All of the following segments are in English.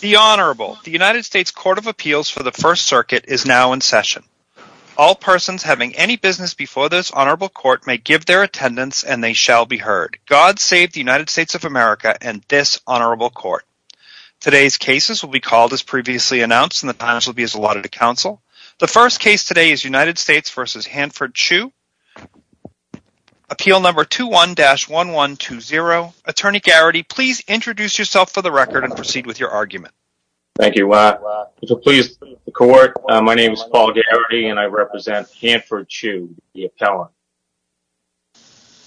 The Honorable, the United States Court of Appeals for the First Circuit is now in session. All persons having any business before this Honorable Court may give their attendance and they shall be heard. God save the United States of America and this Honorable Court. Today's cases will be called as previously announced and the times will be as allotted to counsel. The first case today is United States v. Hanford Chiu. Appeal number 21-1120. Attorney Garrity, please introduce yourself for the record and proceed with your argument. Thank you. Pleased to meet the Court. My name is Paul Garrity and I represent Hanford Chiu, the appellant.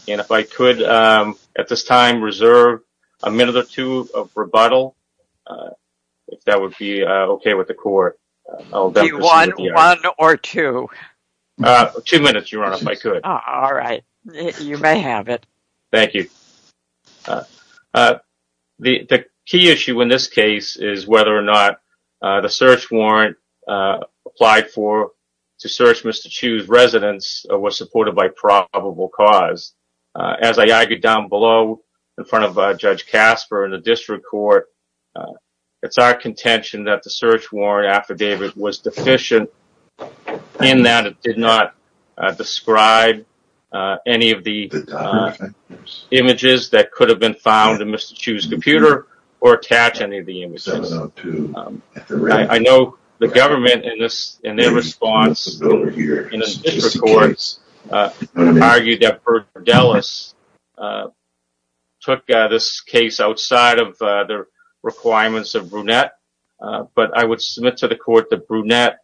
If I could at this time reserve a minute or two of rebuttal, if that would be okay with the Court. One or two? Two minutes, Your Honor, if I could. All right. You may have it. Thank you. The key issue in this case is whether or not the search warrant applied for to search Mr. Chiu's residence was supported by probable cause. As I argued down below in front of Judge Casper in the District Court, it's our contention that the search warrant affidavit was images that could have been found in Mr. Chiu's computer or attach any of the images. I know the government in their response in the District Courts argued that Burdellis took this case outside of the requirements of Brunette, but I would submit to the Court that Burdellis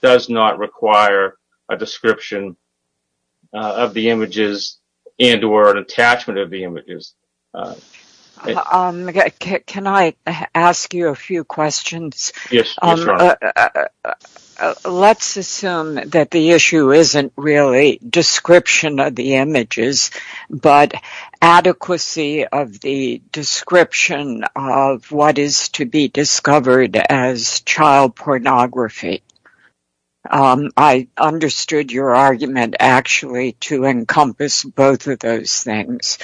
does not require a description of the images and or an attachment of the images. Can I ask you a few questions? Yes, Your Honor. Let's assume that the issue isn't really description of the images, but adequacy of the pornography. I understood your argument actually to encompass both of those things.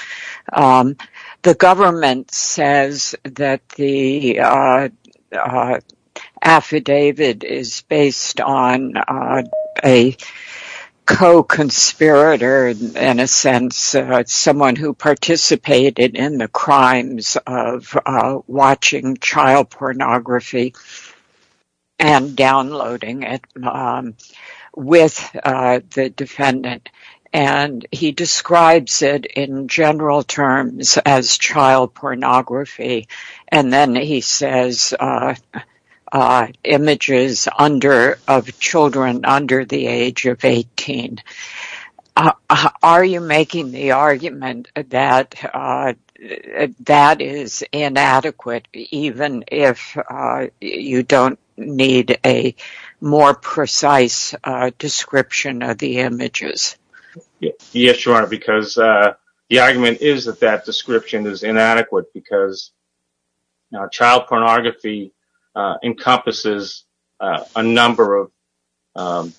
The government says that the affidavit is based on a co-conspirator, in a sense, someone who participated in the crimes of watching child pornography and downloading it with the defendant. He describes it in general terms as child pornography, and then he says images of children under the age of 18. Are you making the argument that that is inadequate, even if you don't need a more precise description of the images? Yes, Your Honor, because the argument is that that description is inadequate because now child pornography encompasses a number of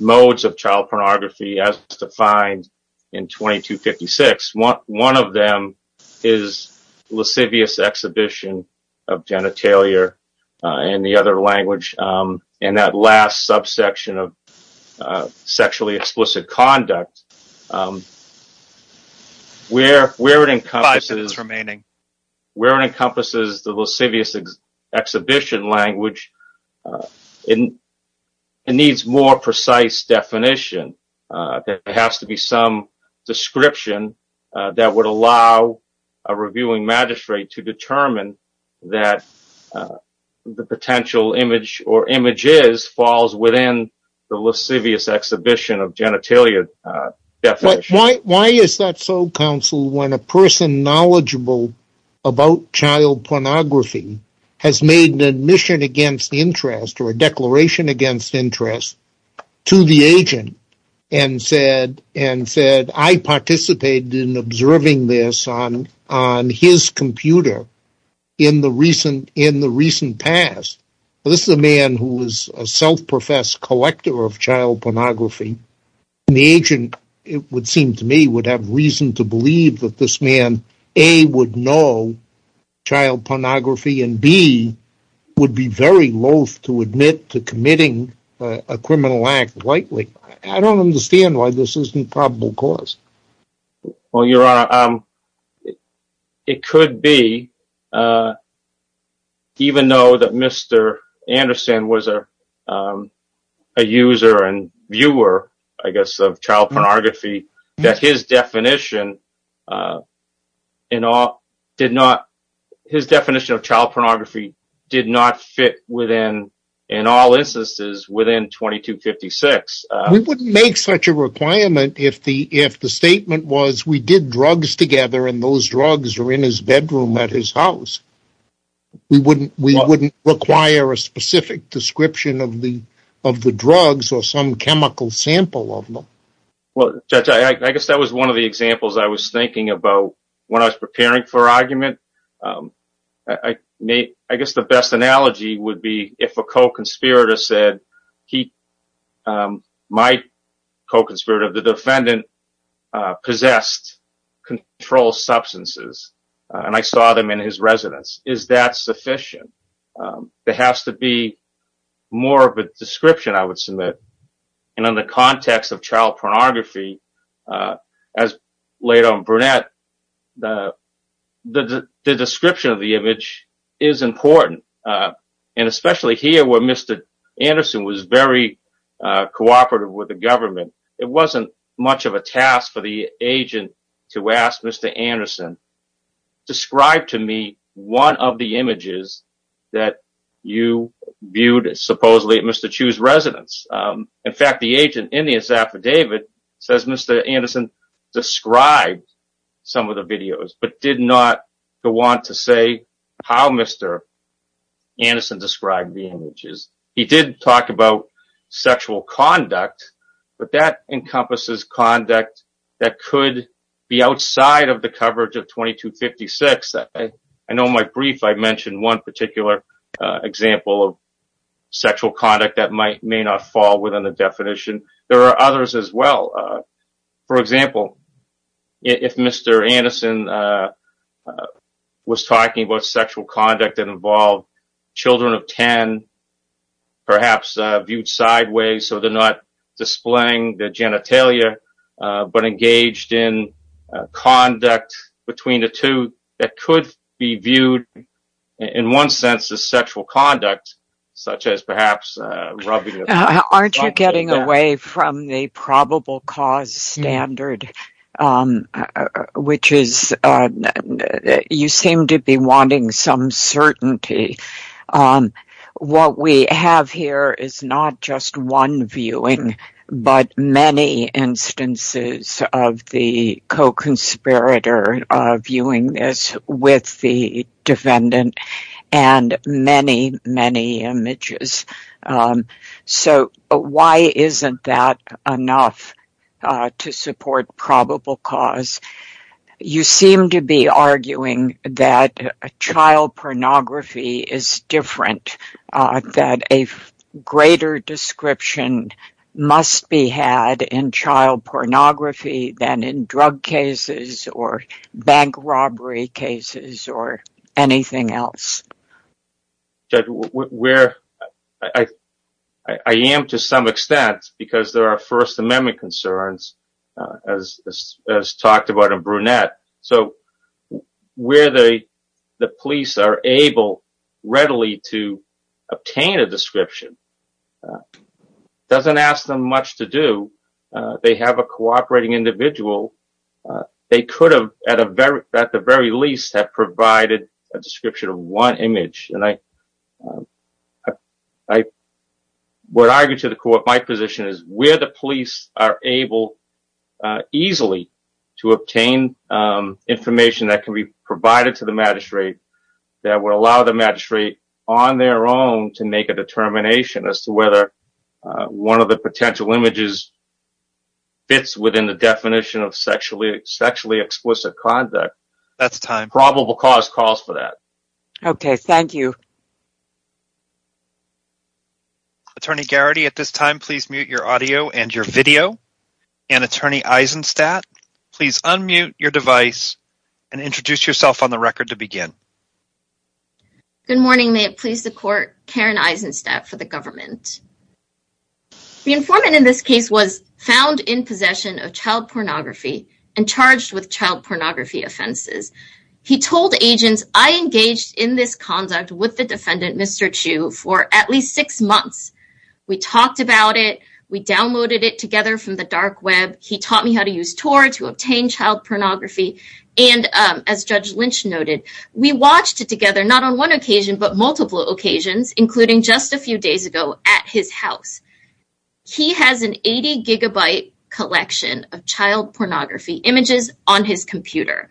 modes of child pornography, as defined in 2256. One of them is lascivious exhibition of genitalia in the other language, and that last subsection of sexually explicit conduct. Where it encompasses the lascivious exhibition language, it needs more precise definition. There has to be some description that would allow a reviewing magistrate to determine that the potential image or images falls within the lascivious exhibition of genitalia definition. Why is that so, counsel, when a person knowledgeable about child pornography has made an admission against interest or a declaration against interest to the agent and said, I participated in observing this on his computer in the recent past? This is a man who is a self-professed collector of child pornography. The agent, it would seem to me, would have reason to believe that this man a. would know child pornography and b. would be very loath to admit to committing a criminal act lightly. I don't understand why this isn't probable cause. Well, your honor, it could be, even though that Mr. Anderson was a user and viewer, I guess, of child pornography, that his definition of child pornography did not fit within, in all instances, within 2256. We wouldn't make such a requirement if the statement was, we did drugs together and those drugs were in his bedroom at his house. We wouldn't require a specific description of the drugs or some chemical sample of them. Well, Judge, I guess that was one of the examples I was thinking about when I was preparing for argument. I guess the best analogy would be if a co-conspirator said, my co-conspirator, the defendant possessed controlled substances and I saw them in his residence. Is that sufficient? There has to be more of a description, I would submit. In the context of child pornography, as laid on brunette, the description of the image is important. And especially here where Mr. Anderson was very cooperative with the government, it wasn't much of a task for the agent to ask Mr. Anderson, describe to me one of the images that you viewed, supposedly, at Mr. Chu's residence. In fact, the agent, in his affidavit, says Mr. Anderson described some of the videos, but did not want to say how Mr. Anderson described the images. He did talk about sexual conduct, but that encompasses conduct that could be outside of the coverage of 2256. I know in my brief I mentioned one particular example of sexual conduct that may not fall within the definition. There are others as well. For example, if Mr. Anderson was talking about sexual conduct that involved children of 10, perhaps viewed sideways, so they're not displaying their genitalia, but engaged in conduct between the two, that could be viewed, in one sense, as sexual conduct, such as perhaps rubbing. Aren't you getting away from the probable cause standard, which is you seem to be wanting some viewing, but many instances of the co-conspirator viewing this with the defendant, and many, many images. So, why isn't that enough to support probable cause? You seem to be arguing that child pornography is different, that a greater description must be had in child pornography than in drug cases, or bank robbery cases, or anything else. I am to some extent, because there are First Amendment concerns, as talked about in Brunette. So, where the police are able readily to obtain a description doesn't ask them much to do. They have a cooperating individual. They could have, at the very least, have provided a description of one image. I would argue to the court, my position is, where the police are able easily to obtain information that can be provided to the magistrate, that would allow the magistrate, on their own, to make a determination as to whether one of the potential images fits within the definition of sexually explicit conduct, probable cause calls for that. Okay, thank you. Attorney Garrity, at this time, please mute your audio and your video. And, Attorney Eisenstadt, please unmute your device and introduce yourself on the record to begin. Good morning. May it please the court, Karen Eisenstadt for the government. The informant in this case was found in possession of child pornography and charged with child pornography offenses. He told agents, I engaged in this conduct with the defendant, Mr. Chu, for at least six months. We talked about it. We downloaded it together from the dark web. He taught me how to use Tor to obtain child pornography. And, as Judge Lynch noted, we watched it together, not on one occasion, but multiple occasions, including just a few days ago at his house. He has an 80 gigabyte collection of child pornography images on his computer.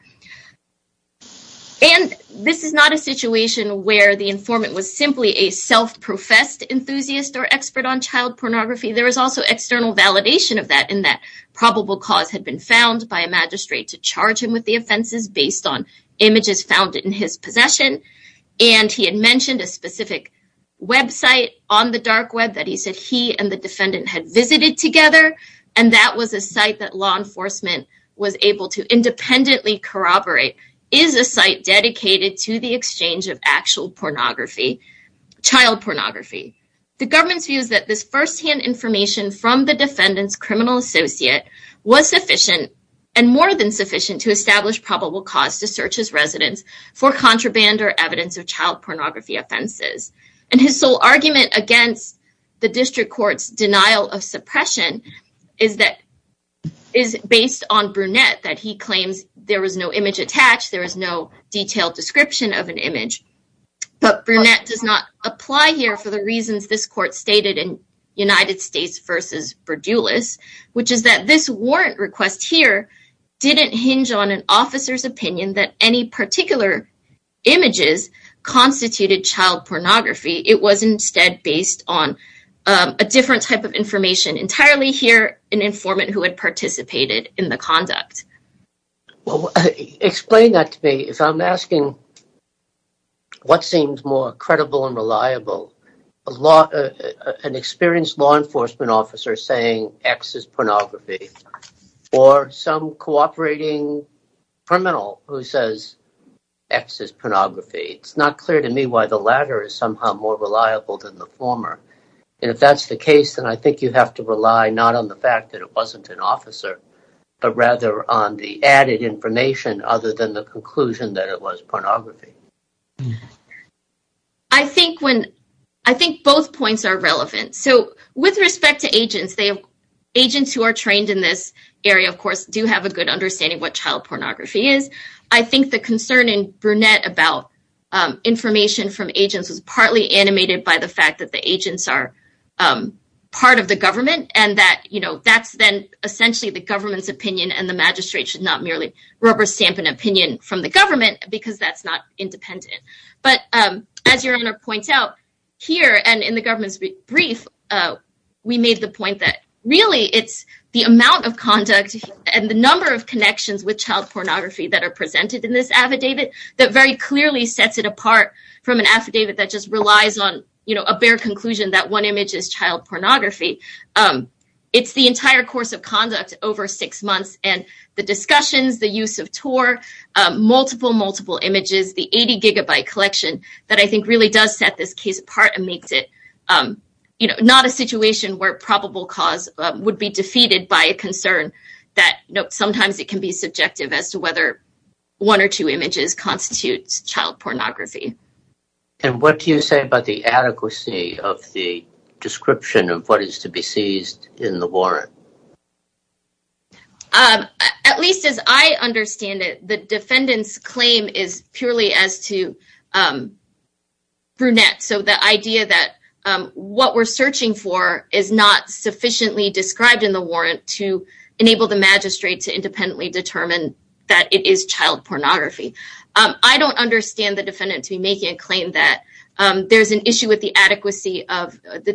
And this is not a situation where the informant was simply a self-professed enthusiast or expert on child pornography. There was also external validation of that in that probable cause had been found by a magistrate to charge him with the offenses based on images found in his possession. And he had mentioned a specific website on the dark web that he said he and the defendant had visited together. And that was a site that law enforcement was able to independently corroborate is a site dedicated to the exchange of actual pornography, child pornography. The government's views that this firsthand information from the defendant's criminal associate was sufficient and more than sufficient to establish probable cause to search his residence for contraband or evidence of child pornography offenses. And his sole argument against the district court's denial of suppression is that is based on Brunette, that he claims there was no image attached. There is no detailed description of an image. But Brunette does not apply here for the reasons this court stated in United States versus Berdoulas, which is that this warrant images constituted child pornography. It was instead based on a different type of information entirely here, an informant who had participated in the conduct. Well, explain that to me if I'm asking what seems more credible and reliable, an experienced law enforcement officer saying X is pornography or some cooperating criminal who says X is pornography. It's not clear to me why the latter is somehow more reliable than the former. And if that's the case, then I think you have to rely not on the fact that it wasn't an officer, but rather on the added information other than the conclusion that it was pornography. I think both points are relevant. So with respect to agents, agents who are trained in this area, of course, do have a good understanding of what child pornography is. I think the concern in Brunette about information from agents was partly animated by the fact that the agents are part of the government and that's then essentially the government's opinion and the magistrate should not merely rubber stamp an opinion from the government because that's not independent. But as your Honor points out here and in the government's brief, we made the point that really it's the amount of conduct and the number of connections with child pornography that are presented in this affidavit that very clearly sets it apart from an affidavit that just relies on a bare conclusion that one image is child pornography. It's the entire course of conduct over six months and the discussions, the use of tour, multiple, multiple images, the 80 gigabyte collection that I think really does set this case apart and makes it not a situation where probable cause would be defeated by a concern that sometimes it can be subjective as to whether one or two images constitutes child pornography. And what do you say about the adequacy of the description of what is to be seized in the warrant? At least as I understand it, the defendant's claim is purely as to brunette. So the idea that what we're searching for is not sufficiently described in the warrant to enable the magistrate to independently determine that it is child pornography. I don't understand the defendant to be making a claim that there's an issue with the adequacy of the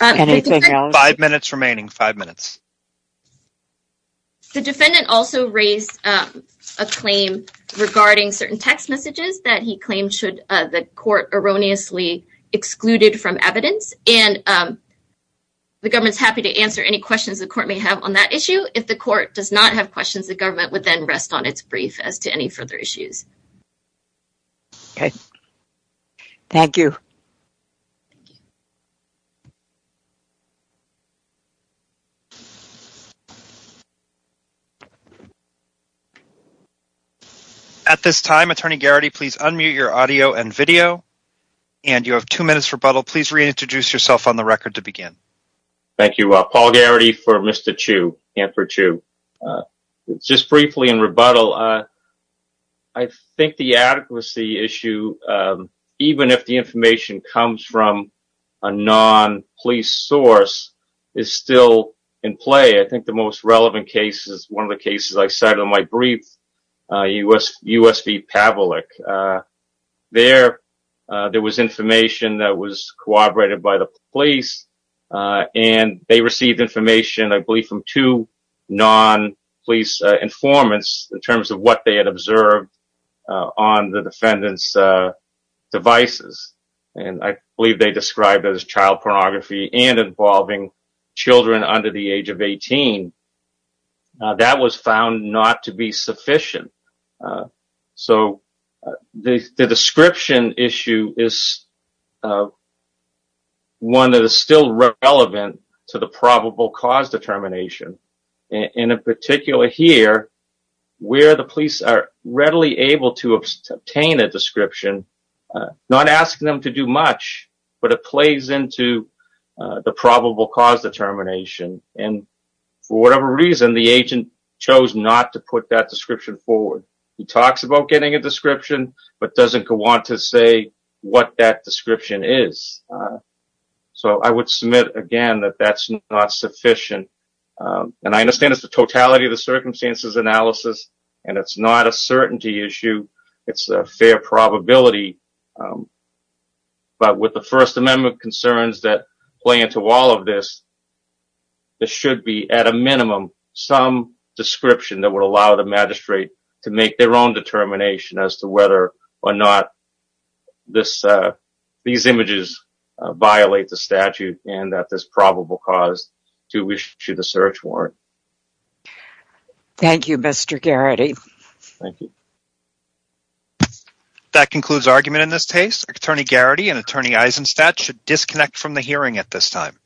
Anything else? Five minutes remaining, five minutes. The defendant also raised a claim regarding certain text messages that he claimed should the court erroneously excluded from evidence and the government's happy to answer any questions the court may have on that issue. If the court does not have questions, the government would then rest on its brief as to any further issues. Okay, thank you. At this time, attorney Garrity, please unmute your audio and video and you have two minutes rebuttal. Please reintroduce yourself on the record to begin. Thank you, Paul Garrity for Mr. Chiu and for Chiu. Just briefly in rebuttal, I think the adequacy issue, even if the information comes from a non-police source, is still in play. I think the most relevant case is one of the cases I cited on my brief, USP Pavlik. There was information that was corroborated by the police and they received information, I believe, from two non-police informants in terms of what they described as child pornography and involving children under the age of 18. That was found not to be sufficient. The description issue is one that is still relevant to the probable cause determination. In particular here, where the police are readily able to obtain a description, not asking them to do much, but it plays into the probable cause determination. And for whatever reason, the agent chose not to put that description forward. He talks about getting a description, but doesn't want to say what that description is. So I would submit again that that's not sufficient. And I understand it's the totality of the circumstances analysis and it's not a certainty issue. It's a fair probability. But with the First Amendment concerns that play into all of this, there should be at a minimum some description that would allow the magistrate to make their own determination as to whether or not these images violate the statute and that this probable cause to issue the search warrant. Thank you, Mr. Garrity. Thank you. That concludes argument in this case. Attorney Garrity and Attorney Eisenstadt should disconnect from the hearing at this time.